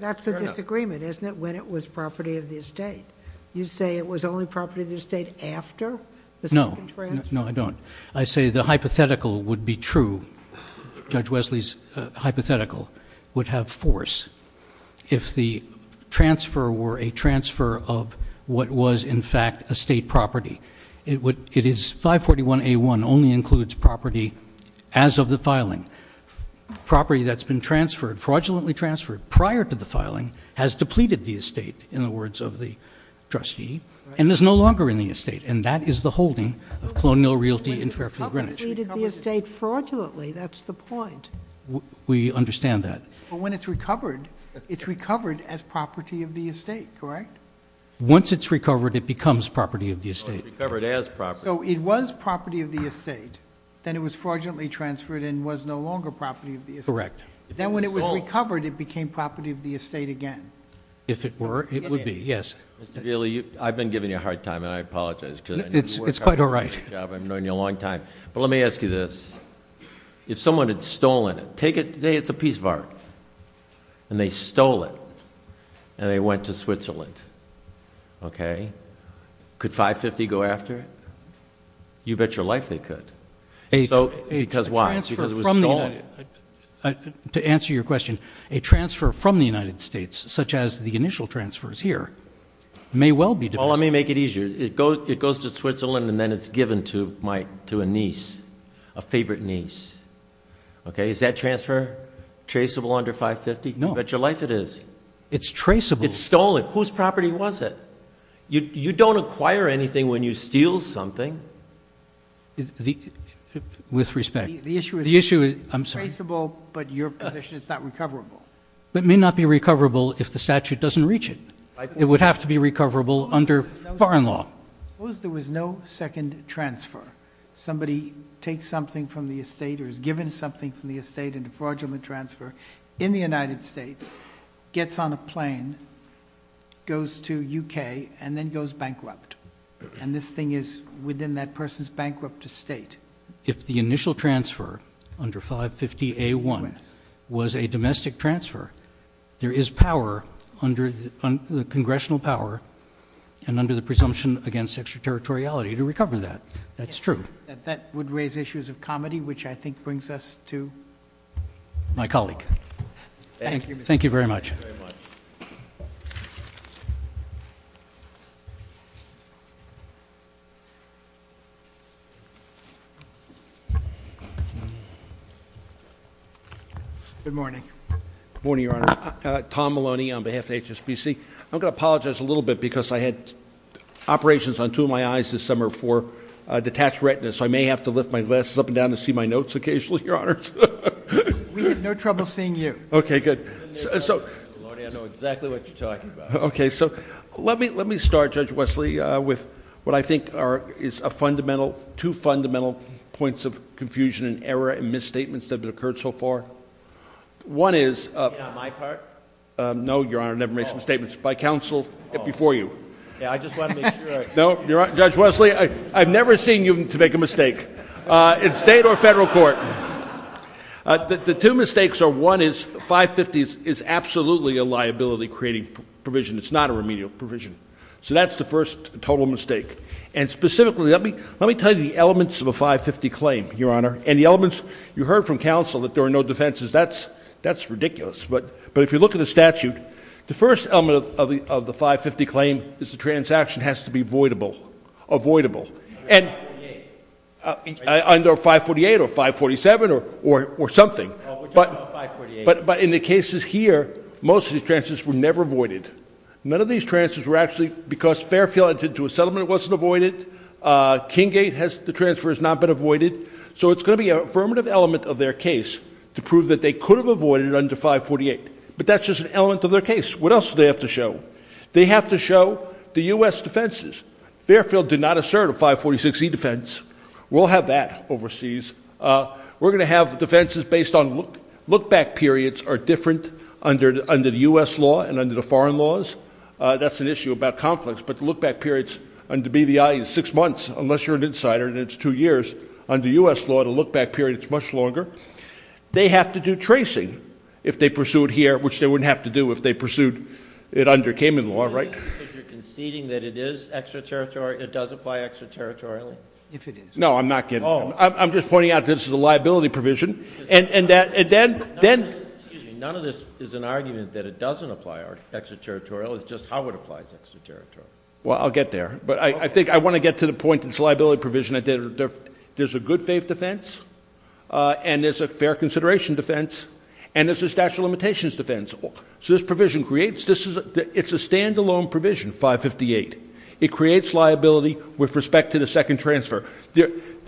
That's a disagreement, isn't it? When it was property of the estate. You say it was only property of the estate after the second transfer? No, I don't. I say the hypothetical would be true. Judge Wesley's hypothetical would have force if the transfer were a transfer of what was in fact a state property. It would, it is 541A1 only includes property as of the filing. Property that's been transferred, fraudulently transferred prior to the trustee and is no longer in the estate. And that is the holding of Colonial Realty in Fairfield Greenwich. The estate fraudulently. That's the point. We understand that. But when it's recovered, it's recovered as property of the estate. Correct? Once it's recovered, it becomes property of the estate. So it was property of the estate. Then it was fraudulently transferred and was no longer property of the estate. Then when it was recovered, it became property of the estate again. If it were, it would be. Yes. I've been giving you a hard time and I apologize because it's quite all right. I've known you a long time, but let me ask you this. If someone had stolen it, take it today. It's a piece of art and they stole it and they went to Switzerland. Okay. Could 550 go after it? You bet your life they could. So, because why? To answer your question, a transfer from the United States, such as the Well, let me make it easier. It goes, it goes to Switzerland and then it's given to my, to a niece, a favorite niece. Okay. Is that transfer traceable under 550? No. You bet your life it is. It's traceable. It's stolen. Whose property was it? You don't acquire anything when you steal something. With respect. The issue is traceable, but your position is not recoverable. But it may not be recoverable if the statute doesn't reach it. It would have to be recoverable under foreign law. Suppose there was no second transfer. Somebody takes something from the estate or is given something from the estate and a fraudulent transfer in the United States, gets on a plane, goes to UK and then goes bankrupt. And this thing is within that person's bankrupt estate. If the initial transfer under 550A1 was a domestic transfer, there is power under the congressional power and under the presumption against extraterritoriality to recover that. That's true. That would raise issues of comedy, which I think brings us to my colleague. Thank you very much. Good morning. Good morning, Your Honor. Tom Maloney on behalf of HSBC. I'm going to apologize a little bit because I had operations on two of my eyes this summer for a detached retina. So I may have to lift my glasses up and down to see my notes occasionally, Your Honor. We had no trouble seeing you. Okay, good. So. Lordy, I know exactly what you're talking about. Okay. So let me, let me start Judge Wesley with what I think are, is a fundamental, two fundamental points of confusion and error and misstatements that have occurred so far. One is. Not my part? No, Your Honor. Never made some statements. By counsel before you. Yeah. I just want to make sure I know you're on judge Wesley. I, I've never seen you to make a mistake, uh, in state or federal court. Uh, the, the two mistakes are one is five fifties is absolutely a liability creating provision. It's not a remedial provision. So that's the first total mistake. And specifically, let me, let me tell you the elements of a five 50 claim, Your Honor, and the elements you heard from counsel that there are no defenses. That's, that's ridiculous. But, but if you look at a statute, the first element of the, of the five 50 claim is the transaction has to be voidable, avoidable and under 548 or 547 or, or, or something, but, but in the cases here, most of these transfers were never avoided, none of these transfers were actually because Fairfield entered into a settlement. It wasn't avoided. Uh, King gate has, the transfer has not been avoided. So it's going to be an affirmative element of their case to prove that they could have avoided under 548, but that's just an element of their case. What else do they have to show? They have to show the U S defenses. Fairfield did not assert a 546 E defense. We'll have that overseas. Uh, we're going to have defenses based on look, look back. Periods are different under, under the U S law and under the foreign laws. Uh, that's an issue about conflicts, but the look back periods and to be the eye is six months, unless you're an insider and it's two years under U S law to look back period, it's much longer. They have to do tracing if they pursue it here, which they wouldn't have to do if they pursued it under Cayman law, right? If you're conceding that it is extraterritorial, it does apply extraterritorial if it is, no, I'm not getting, I'm just pointing out this is a liability provision and that, and then, then none of this is an argument that it doesn't apply our extraterritorial is just how it applies extraterritorial. Well, I'll get there, but I think I want to get to the point that it's liability provision. There's a good faith defense. Uh, and there's a fair consideration defense and there's a statute of limitations defense. So this provision creates, this is a, it's a standalone provision, five 58, it creates liability with respect to the second transfer.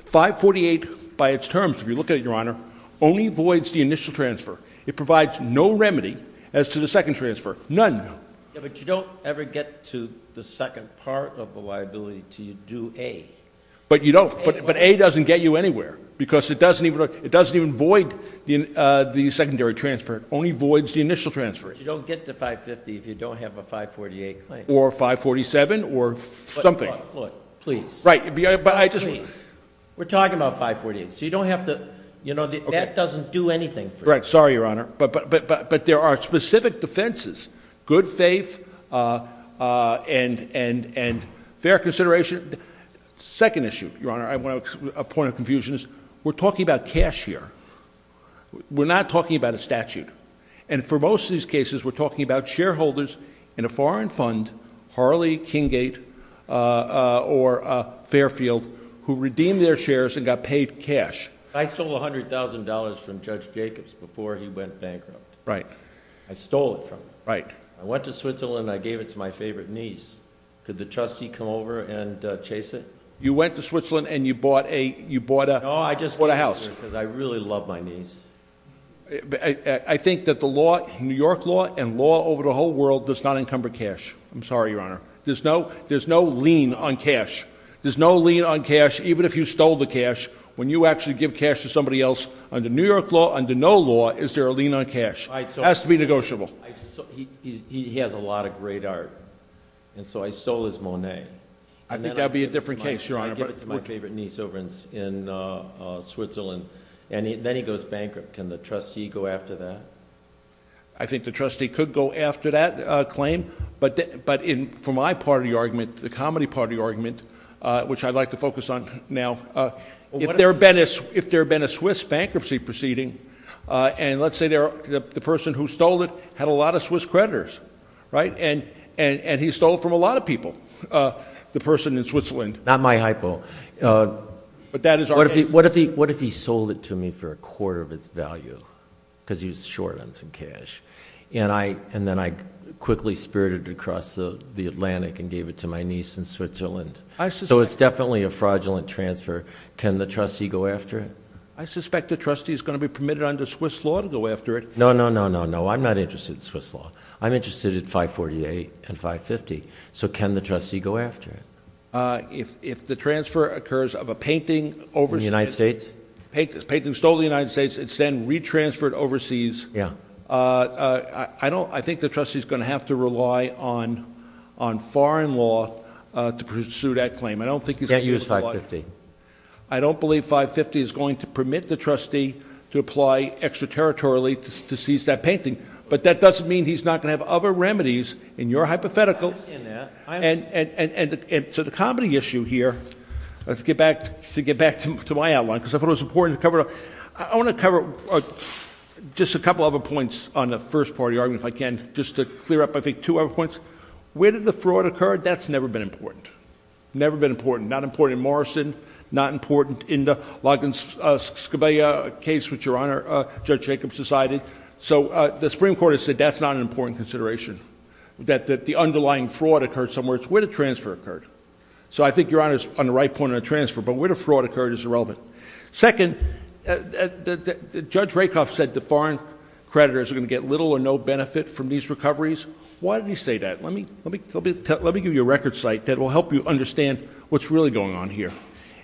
Five 48 by its terms. If you look at it, your honor only avoids the initial transfer. It provides no remedy as to the second transfer. None. Yeah. But you don't ever get to the second part of the liability to you do a, but you don't, but, but a doesn't get you anywhere because it doesn't even look, it doesn't even void the, uh, the secondary transfer only voids the initial transfer, you don't get to five 50. If you don't have a five 48 or five 47 or something, please. Right. But I just, we're talking about five 48. So you don't have to, you know, that doesn't do anything. Right. Sorry, your honor. But, but, but, but there are specific defenses, good faith, uh, uh, and, and, and fair consideration. Second issue, your honor. I want a point of confusion is we're talking about cash here. We're not talking about a statute. And for most of these cases, we're talking about shareholders in a foreign fund, Harley, King gate, uh, or, uh, Fairfield who redeemed their shares and got paid cash. I stole a hundred thousand dollars from judge Jacobs before he went bankrupt. Right. I stole it from him. Right. I went to Switzerland and I gave it to my favorite niece. Could the trustee come over and chase it? You went to Switzerland and you bought a, you bought a, bought a house. Cause I really love my niece. I think that the law, New York law and law over the whole world does not encumber cash. I'm sorry, your honor. There's no, there's no lien on cash. There's no lien on cash. Even if you stole the cash, when you actually give cash to somebody else under New York law, under no law, is there a lien on cash? I still has to be negotiable. I saw he's, he has a lot of great art. And so I stole his Monet. I think that'd be a different case, your honor. I brought it to my favorite niece over in, in, uh, uh, Switzerland. And then he goes bankrupt. Can the trustee go after that? I think the trustee could go after that claim, but, but in, for my party argument, the comedy party argument, uh, which I'd like to focus on now, uh, if there had been a, if there had been a Swiss bankruptcy proceeding, uh, and let's say there, the person who stole it had a lot of Swiss creditors, right. And, and, and he stole from a lot of people, uh, the person in Switzerland, not my hypo, uh, but that is, what if he, what if he, what if he sold it to me for a quarter of its value? Cause he was short on some cash. And I, and then I quickly spirited across the Atlantic and gave it to my niece in Switzerland. So it's definitely a fraudulent transfer. Can the trustee go after it? I suspect the trustee is going to be permitted under Swiss law to go after it. No, no, no, no, no. I'm not interested in Swiss law. I'm interested in 548 and 550. So can the trustee go after it? Uh, if, if the transfer occurs of a painting over the United States, paint this painting, stole the United States, it's then retransferred overseas. Uh, uh, I don't, I think the trustee is going to have to rely on, on foreign law, uh, to pursue that claim. I don't think he's going to use 550. I don't believe 550 is going to permit the trustee to apply extraterritorially to seize that painting. But that doesn't mean he's not going to have other remedies in your hypothetical. And, and, and, and to the comedy issue here, let's get back to get back to my outline, because I thought it was important to cover up. I want to cover just a couple of other points on the first part of the argument. If I can just to clear up, I think two other points, where did the fraud occur? That's never been important. Never been important. Not important in Morrison, not important in the Logan Scobia case, which your honor, uh, judge Jacobs decided. So, uh, the Supreme court has said that's not an important consideration that, that the underlying fraud occurred somewhere it's where the transfer occurred. So I think your honor is on the right point on a transfer, but where the fraud occurred is irrelevant. Second, uh, the judge Rakoff said the foreign creditors are going to get little or no benefit from these recoveries. Why did he say that? Let me, let me, let me give you a record site that will help you understand what's really going on here.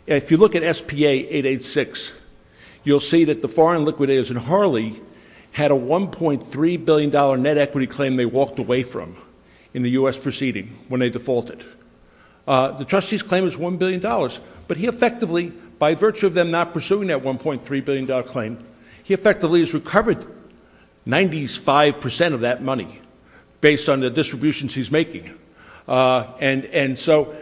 If you look at SPA 886, you'll see that the foreign liquidators in Harley had a $1.3 billion net equity claim. They walked away from in the U S proceeding when they defaulted. Uh, the trustees claim is $1 billion, but he effectively, by virtue of them not pursuing that $1.3 billion claim, he effectively has recovered 95% of that money based on the distributions he's making. Uh, and, and so,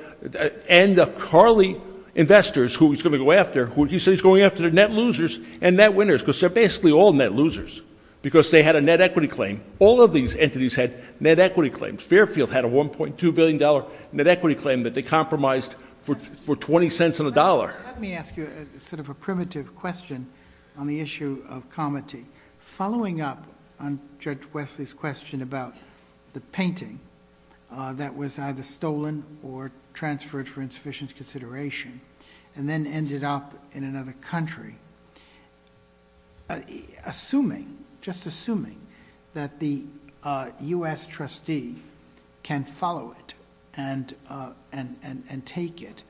and the Carly investors who he's going to go after, who he says he's going after the net losers and net winners, because they're basically all net losers because they had a net equity claim. All of these entities had net equity claims. Fairfield had a $1.2 billion net equity claim that they compromised for 20 cents on a dollar. Let me ask you a sort of a primitive question on the issue of comity. Following up on judge Wesley's question about the painting, uh, that was either stolen or transferred for insufficient consideration and then ended up in another country, uh, assuming, just assuming that the, uh, U S trustee can follow it and, uh, and, and, and take it.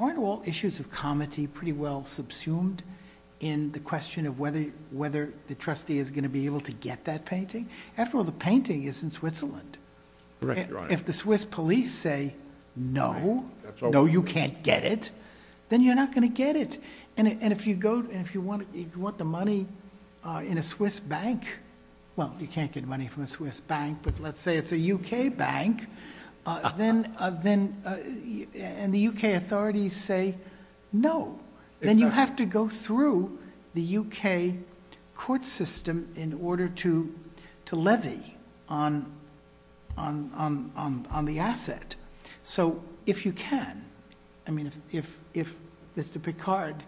Aren't all issues of comity pretty well subsumed in the question of whether, whether the trustee is going to be able to get that painting. After all, the painting is in Switzerland. If the Swiss police say, no, no, you can't get it. Then you're not going to get it. And if you go, and if you want, if you want the money, uh, in a Swiss bank, well, you can't get money from a Swiss bank, but let's say it's a UK bank. Uh, then, uh, then, uh, and the UK authorities say, no, then you have to go through the UK court system in order to, to levy on, on, on, on, on the asset. So if you can, I mean, if, if, if Mr. Picard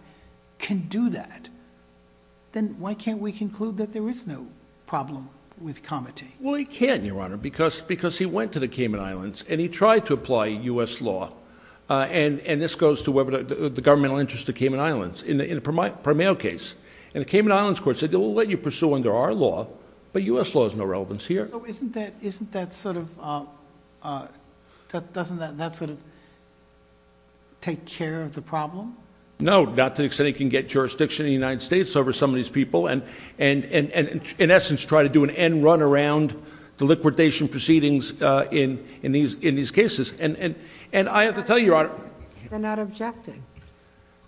can do that, then why can't we conclude that there is no problem with comity? Well, he can, Your Honor, because, because he went to the Cayman Islands and he tried to apply U S law. Uh, and, and this goes to whether the governmental interest of Cayman Islands in the, in the Primeil case and the Cayman Islands court said, we'll let you pursue under our law, but U S law has no relevance here. Isn't that, isn't that sort of, uh, uh, doesn't that, that sort of take care of the problem? No, not to the extent it can get jurisdiction in the United States over some of these people. And, and, and, and in essence, try to do an end run around the liquidation proceedings, uh, in, in these, in these cases. And, and, and I have to tell you, Your Honor,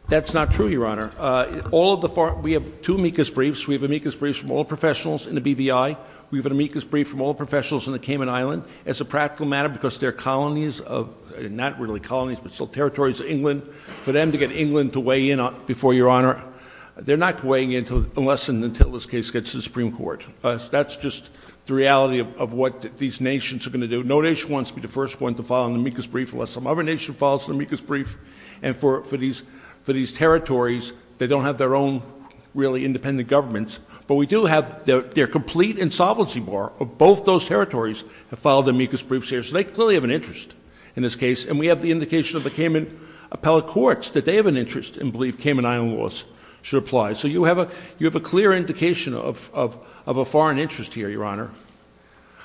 that's not true, Your Honor. Uh, all of the far, we have two amicus briefs. We have amicus briefs from all professionals in the BVI. We've had amicus brief from all professionals in the Cayman Island as a practical matter, because they're colonies of not really colonies, but still territories of England for them to get England to weigh in on before Your Honor, they're not weighing into unless and until this case gets to the Supreme court, that's just the reality of, of what these nations are going to do. No nation wants to be the first one to file an amicus brief unless some other nation files an amicus brief. And for, for these, for these territories, they don't have their own really independent governments, but we do have their, their complete insolvency bar of both those territories have filed amicus briefs here. So they clearly have an interest in this case. And we have the indication of the Cayman appellate courts that they have an interest and believe Cayman Island laws should apply. So you have a, you have a clear indication of, of, of a foreign interest here, Your Honor,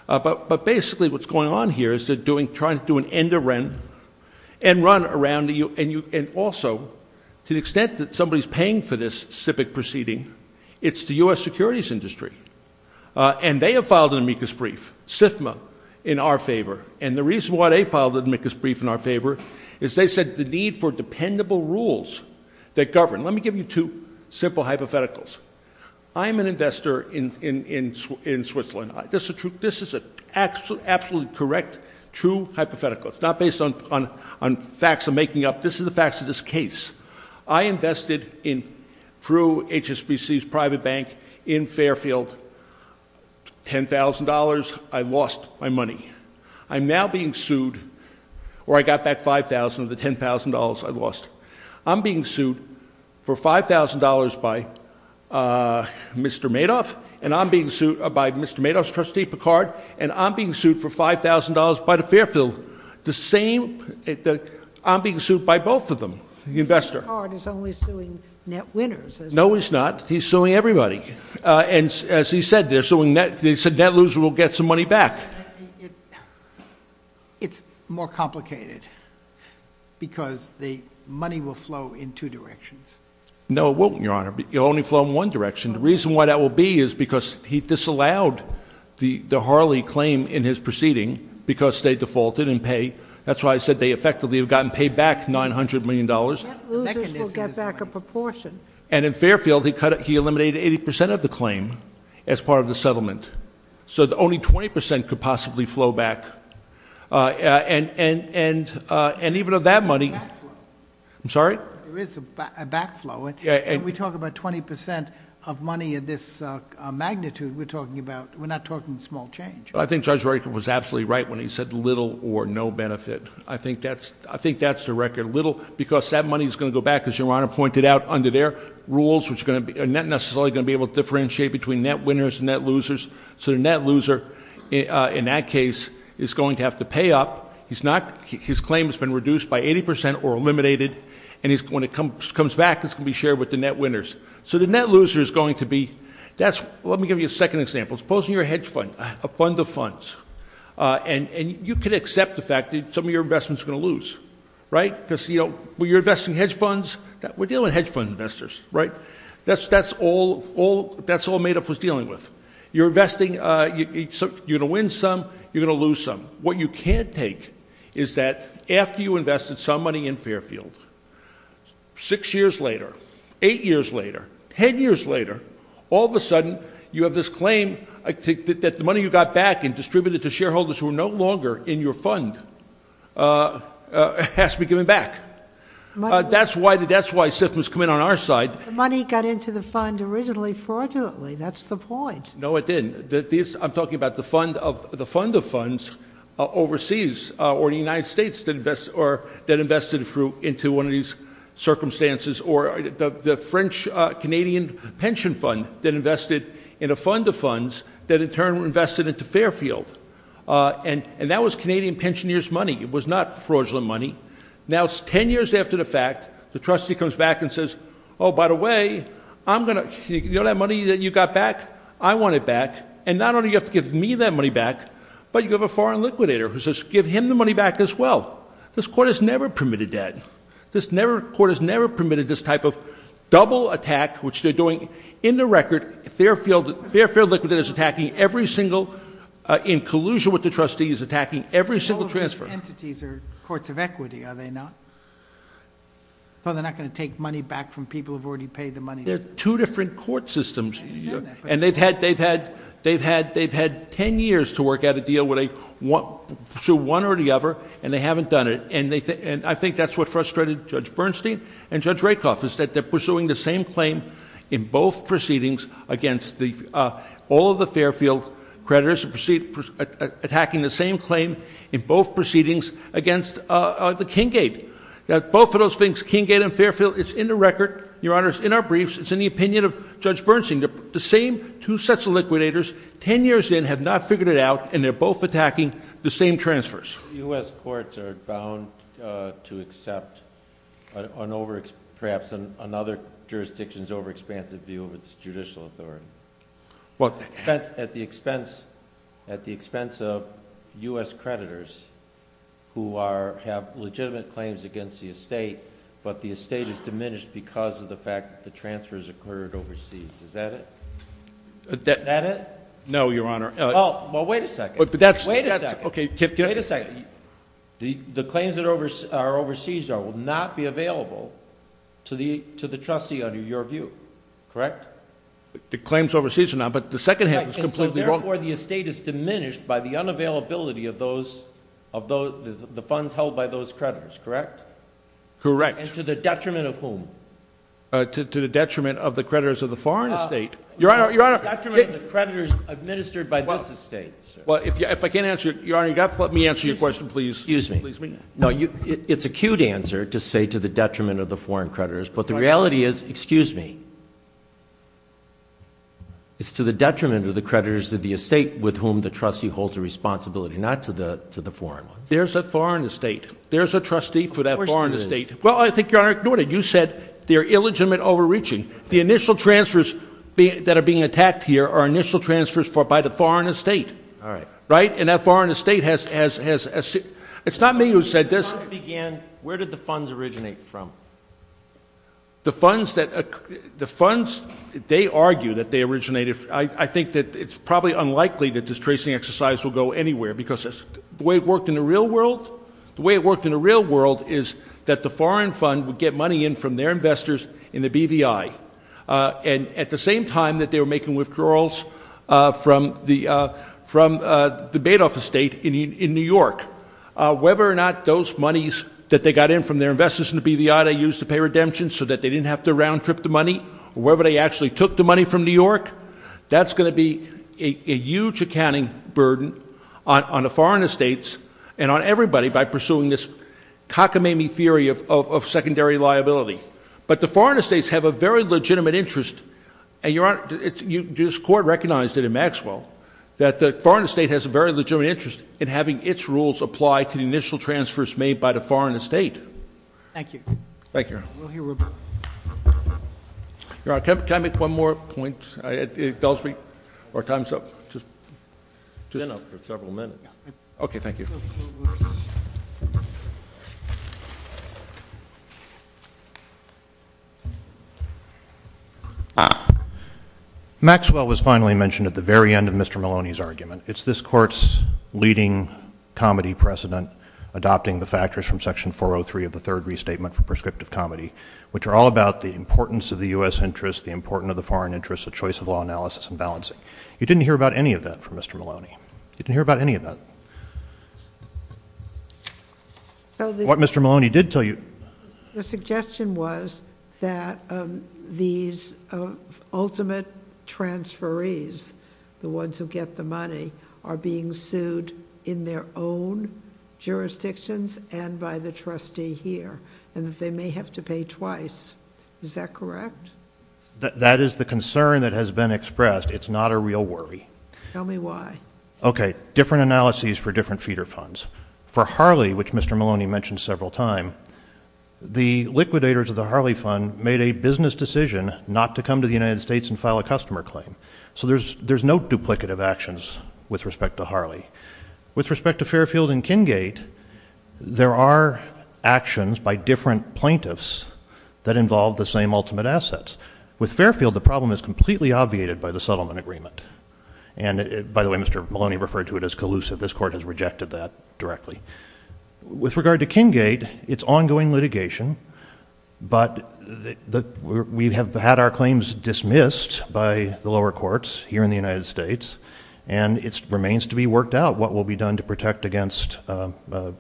uh, but, but basically what's going on here is they're doing, trying to do an end to rent and run around the U and you, and also to the extent that somebody is paying for this civic proceeding, it's the U S securities industry, uh, and they have filed an amicus brief SIFMA in our favor. And the reason why they filed an amicus brief in our favor is they said the need for dependable rules that govern. Let me give you two simple hypotheticals. I'm an investor in, in, in, in Switzerland. This is a true, this is a absolute, absolutely correct, true hypothetical. It's not based on, on, on facts of making up. This is the facts of this case. I invested in through HSBC's private bank in Fairfield, $10,000. I lost my money. I'm now being sued or I got back 5,000 of the $10,000 I lost. I'm being sued for $5,000 by, uh, Mr. Madoff and I'm being sued by Mr. Madoff's trustee, Picard, and I'm being sued for $5,000 by the Fairfield. The same, I'm being sued by both of them, the investor. Picard is only suing net winners. No, he's not. He's suing everybody. Uh, and as he said, they're suing net, they said net loser will get some money back. It's more complicated because the money will flow in two directions. No, it won't, Your Honor, but you'll only flow in one direction. The reason why that will be is because he disallowed the Harley claim in his defaulted and pay, that's why I said they effectively have gotten paid back $900 million and in Fairfield, he cut it. He eliminated 80% of the claim as part of the settlement. So the only 20% could possibly flow back. Uh, and, and, and, uh, and even of that money, I'm sorry. There is a backflow. And we talk about 20% of money at this magnitude. We're talking about, we're not talking small change. But I think judge was absolutely right when he said little or no benefit. I think that's, I think that's the record little because that money is going to go back as your Honor pointed out under their rules, which is going to be a net necessarily going to be able to differentiate between net winners and net losers. So the net loser, uh, in that case is going to have to pay up. He's not, his claim has been reduced by 80% or eliminated. And he's going to come, comes back. It's going to be shared with the net winners. So the net loser is going to be, that's, let me give you a second example. Supposing you're a hedge fund, a fund of funds, uh, and, and you can accept the fact that some of your investments are going to lose, right? Cause you don't, well, you're investing hedge funds that we're dealing with hedge fund investors, right? That's, that's all, all that's all made up was dealing with your investing. Uh, you're going to win some, you're going to lose some. What you can't take is that after you invested some money in Fairfield, six years later, eight years later, 10 years later, all of a sudden you have this claim, I think that the money you got back and distributed to shareholders who are no longer in your fund, uh, uh, has to be given back, uh, that's why the, that's why SIFMA's come in on our side. The money got into the fund originally fraudulently. That's the point. No, it didn't. The, this, I'm talking about the fund of the fund of funds overseas, uh, or the United States that invest or that invested through into one of these circumstances or the French, uh, Canadian pension fund that invested in a fund of funds that in turn were invested into Fairfield, uh, and, and that was Canadian pensioners money. It was not fraudulent money. Now it's 10 years after the fact, the trustee comes back and says, oh, by the way, I'm going to, you know, that money that you got back, I want it back. And not only do you have to give me that money back, but you have a foreign liquidator who says, give him the money back as well. This court has never permitted that. This never court has never permitted this type of double attack, which they're doing in the record, Fairfield, Fairfield liquidators attacking every single, uh, in collusion with the trustees attacking every single transfer. Entities are courts of equity. Are they not? So they're not going to take money back from people who've already paid the money. There are two different court systems. And they've had, they've had, they've had, they've had 10 years to work out a deal where they want to pursue one or the other, and they haven't done it. And they think, and I think that's what frustrated judge Bernstein and judge Rakeoff is that they're pursuing the same claim in both proceedings against the, uh, all of the Fairfield creditors and proceed, uh, attacking the same claim in both proceedings against, uh, the King gate that both of those things, King gate and Fairfield it's in the record, your honors in our briefs, it's in the opinion of judge Bernstein, the same two sets of liquidators 10 years in have not figured it out and they're both attacking the same transfers. US courts are bound, uh, to accept, uh, on over perhaps another jurisdiction's over-expansive view of its judicial authority. Well, at the expense, at the expense of US creditors who are, have legitimate claims against the estate, but the estate is diminished because of the fact that the transfers occurred overseas. Is that it? No, your honor. Oh, well, wait a second. But that's, wait a second. Okay. Kip, wait a second. The, the claims that are over, are overseas are, will not be available to the, to the trustee under your view. Correct. The claims overseas are now, but the second half is completely wrong. Where the estate is diminished by the unavailability of those, of those, the funds held by those creditors. Correct. Correct. And to the detriment of whom, uh, to, to the detriment of the creditors of the foreign estate. Your honor, your honor, the creditors administered by this estate. Well, if you, if I can't answer your, your honor, you got, let me answer your question, please. Excuse me. No, you, it's a cute answer to say to the detriment of the foreign creditors, but the reality is, excuse me. It's to the detriment of the creditors of the estate with whom the trustee holds a responsibility, not to the, to the foreign ones. There's a foreign estate. There's a trustee for that foreign estate. Well, I think you're ignoring it. You said they're illegitimate overreaching. The initial transfers that are being attacked here are initial transfers for, by the foreign estate. All right. Right. And that foreign estate has, has, has, it's not me who said this. Where did the funds originate from? The funds that the funds, they argue that they originated. I think that it's probably unlikely that this tracing exercise will go anywhere because the way it worked in the real world, the way it worked in the real world is that the foreign fund would get money in from their investors in the BVI, uh, and at the same time that they were making withdrawals, uh, from the, uh, from, uh, the Badoff estate in New York, uh, whether or not those monies that they got in from their investors in the BVI, they used to pay redemption so that they didn't have to round trip the money or whether they actually took the money from New York. That's going to be a huge accounting burden on, on a foreign estates and on everybody by pursuing this cockamamie theory of, of, of secondary liability. But the foreign estates have a very legitimate interest. And your honor, it's you, this court recognized it in Maxwell that the foreign estate has a very legitimate interest in having its rules apply to the initial transfers made by the foreign estate. Thank you. Thank you. Your honor, can I make one more point? I, it tells me our time's up. Just just several minutes. Okay. Thank you. Maxwell was finally mentioned at the very end of Mr. Maloney's argument. It's this court's leading comedy precedent, adopting the factors from section 403 of the third restatement for prescriptive comedy, which are all about the importance of the U S interest, the important of the foreign interests, the choice of law analysis and balancing. You didn't hear about any of that from Mr. Maloney. You didn't hear about any of that. So what Mr. Maloney did tell you, the suggestion was that, um, these, uh, ultimate transfer ease, the ones who get the money are being sued in their own jurisdictions and by the trustee here, and that they may have to pay twice. Is that correct? That is the concern that has been expressed. It's not a real worry. Tell me why. Okay. Different analyses for different feeder funds for Harley, which Mr. Maloney mentioned several time, the liquidators of the Harley fund made a business decision not to come to the United States and file a customer claim. So there's, there's no duplicative actions with respect to Harley. With respect to Fairfield and Kingate, there are actions by different plaintiffs that involve the same ultimate assets with Fairfield. The problem is completely obviated by the settlement agreement. And by the way, Mr. Maloney referred to it as collusive. This court has rejected that directly. With regard to Kingate, it's ongoing litigation, but the, we have had our claims dismissed by the lower courts here in the United States, and it remains to be worked out what will be done to protect against, uh, uh,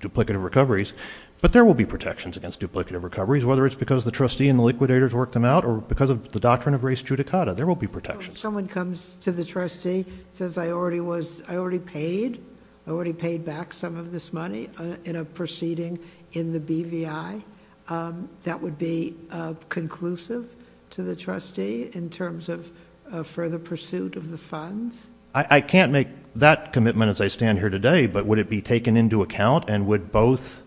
duplicative recoveries, but there will be protections against duplicative recoveries, whether it's because the trustee and the liquidators worked them out or because of the doctrine of res judicata, there will be protections. If someone comes to the trustee, says I already was, I already paid, I already paid back some of this money in a proceeding in the BVI, um, that would be, uh, conclusive to the trustee in terms of, uh, further pursuit of the funds? I, I can't make that commitment as I stand here today, but would it be taken into account and would both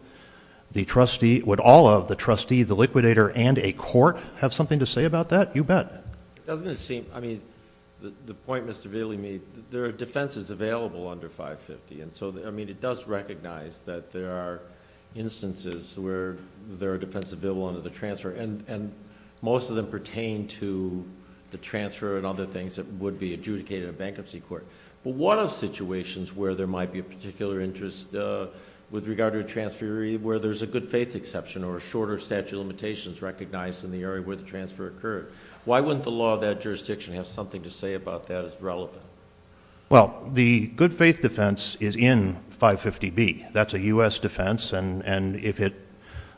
the trustee, would all of the trustee, the liquidator and a court have something to say about that? You bet. It doesn't seem, I mean, the, the point Mr. Vealy made, there are defenses available under 550. And so, I mean, it does recognize that there are instances where there are defenses available under the transfer and, and most of them pertain to the transfer and other things that would be adjudicated in a bankruptcy court. But what are situations where there might be a particular interest, uh, with regard to a transfer where there's a good faith exception or a shorter statute of limitations recognized in the area where the transfer occurred? Why wouldn't the law of that jurisdiction have something to say about that as relevant? Well, the good faith defense is in 550B. That's a U.S. defense. And, and if it,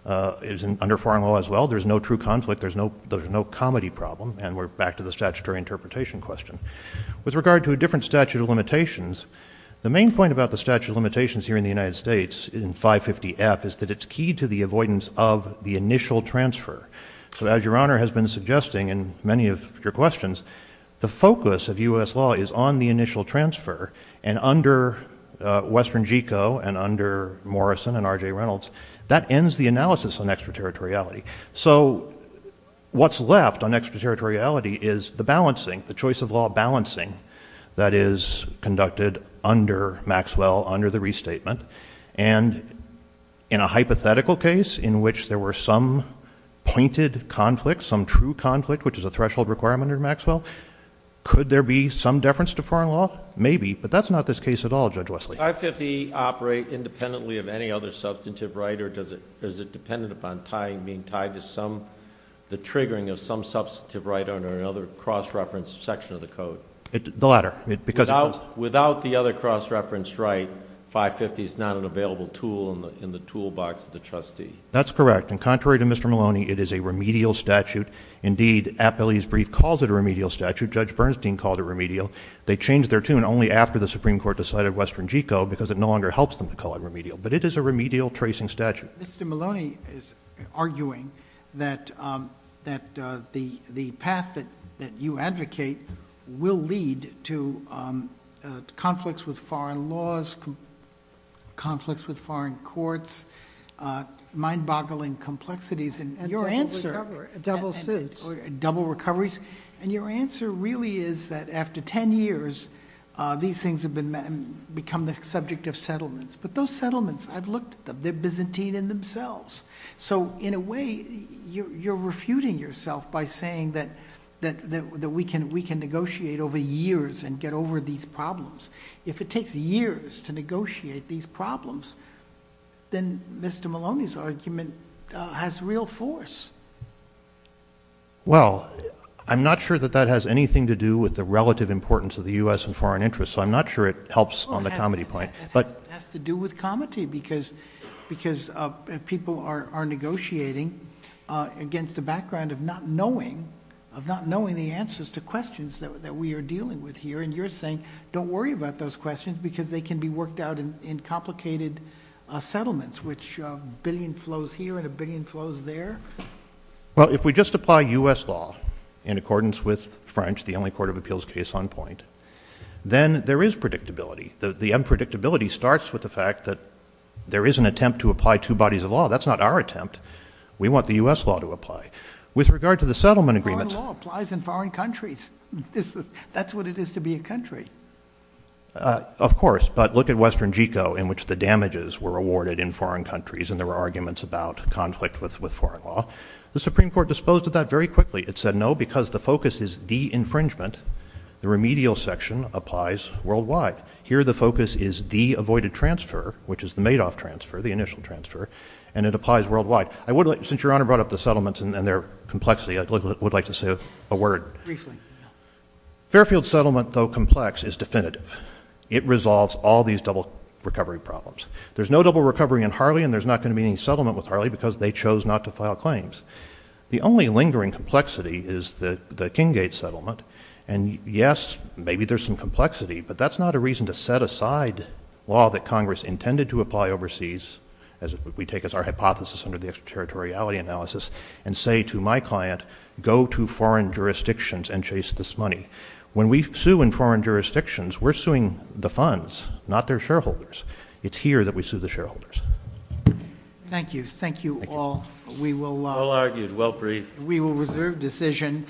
uh, is under foreign law as well, there's no true conflict. There's no, there's no comedy problem. And we're back to the statutory interpretation question. With regard to a different statute of limitations, the main point about the statute of limitations here in the United States in 550F is that it's key to the avoidance of the initial transfer. So as your Honor has been suggesting in many of your questions, the focus of U.S. law is on the initial transfer and under, uh, Western GECO and under Morrison and RJ Reynolds, that ends the analysis on extraterritoriality. So what's left on extraterritoriality is the balancing, the choice of law balancing that is conducted under Maxwell, under the restatement. And in a hypothetical case in which there were some pointed conflict, some true conflict, which is a threshold requirement under Maxwell, could there be some deference to foreign law? Maybe, but that's not this case at all. Judge Wesley. 550 operate independently of any other substantive right? Or does it, is it dependent upon tying, being tied to some, the triggering of some substantive right under another cross-reference section of the code? It, the latter. Without the other cross-reference right, 550 is not an available tool in the, in the toolbox of the trustee. That's correct. And contrary to Mr. Maloney, it is a remedial statute. Indeed, Appellee's brief calls it a remedial statute. Judge Bernstein called it remedial. They changed their tune only after the Supreme Court decided Western GECO because it no longer helps them to call it remedial, but it is a remedial tracing statute. Mr. Maloney is arguing that, um, that, uh, the, the path that, that you advocate will lead to, um, uh, conflicts with foreign laws, conflicts with foreign courts, uh, mind boggling complexities and your answer, double recoveries, and your answer really is that after 10 years, uh, these things have been met and become the subject of settlements, but those settlements, I've looked at them, they're Byzantine in themselves. So in a way you're, you're refuting yourself by saying that, that, that, that we can, we can negotiate over years and get over these problems. If it takes years to negotiate these problems, then Mr. Maloney's argument has real force. Well, I'm not sure that that has anything to do with the relative importance of the U.S. and foreign interests. So I'm not sure it helps on the comedy point. Has to do with comedy because, because, uh, people are negotiating, uh, against the background of not knowing, of not knowing the answers to questions that, that we are dealing with here. And you're saying, don't worry about those questions because they can be worked out in, in complicated, uh, settlements, which a billion flows here and a billion flows there. Well, if we just apply U.S. law in accordance with French, the only court of appeals case on point, then there is predictability. The unpredictability starts with the fact that there is an attempt to apply two bodies of law. That's not our attempt. We want the U.S. law to apply with regard to the settlement agreement applies in foreign countries. That's what it is to be a country. Uh, of course, but look at Western GECO in which the damages were awarded in foreign countries, and there were arguments about conflict with, with foreign law, the Supreme court disposed of that very quickly. It said no, because the focus is the infringement. The remedial section applies worldwide. Here, the focus is the avoided transfer, which is the Madoff transfer, the initial transfer, and it applies worldwide. I would like, since your honor brought up the settlements and their complexity, I would like to say a word. Fairfield settlement though complex is definitive. It resolves all these double recovery problems. There's no double recovery in Harley and there's not going to be any settlement with Harley because they chose not to file claims. The only lingering complexity is the, the King Gate settlement. And yes, maybe there's some complexity, but that's not a reason to set aside law that Congress intended to apply overseas. As we take as our hypothesis under the extraterritoriality analysis and say to my client, go to foreign jurisdictions and chase this money when we sue in foreign jurisdictions, we're suing the funds, not their shareholders. It's here that we sue the shareholders. Thank you. Thank you all. We will, we will reserve decision.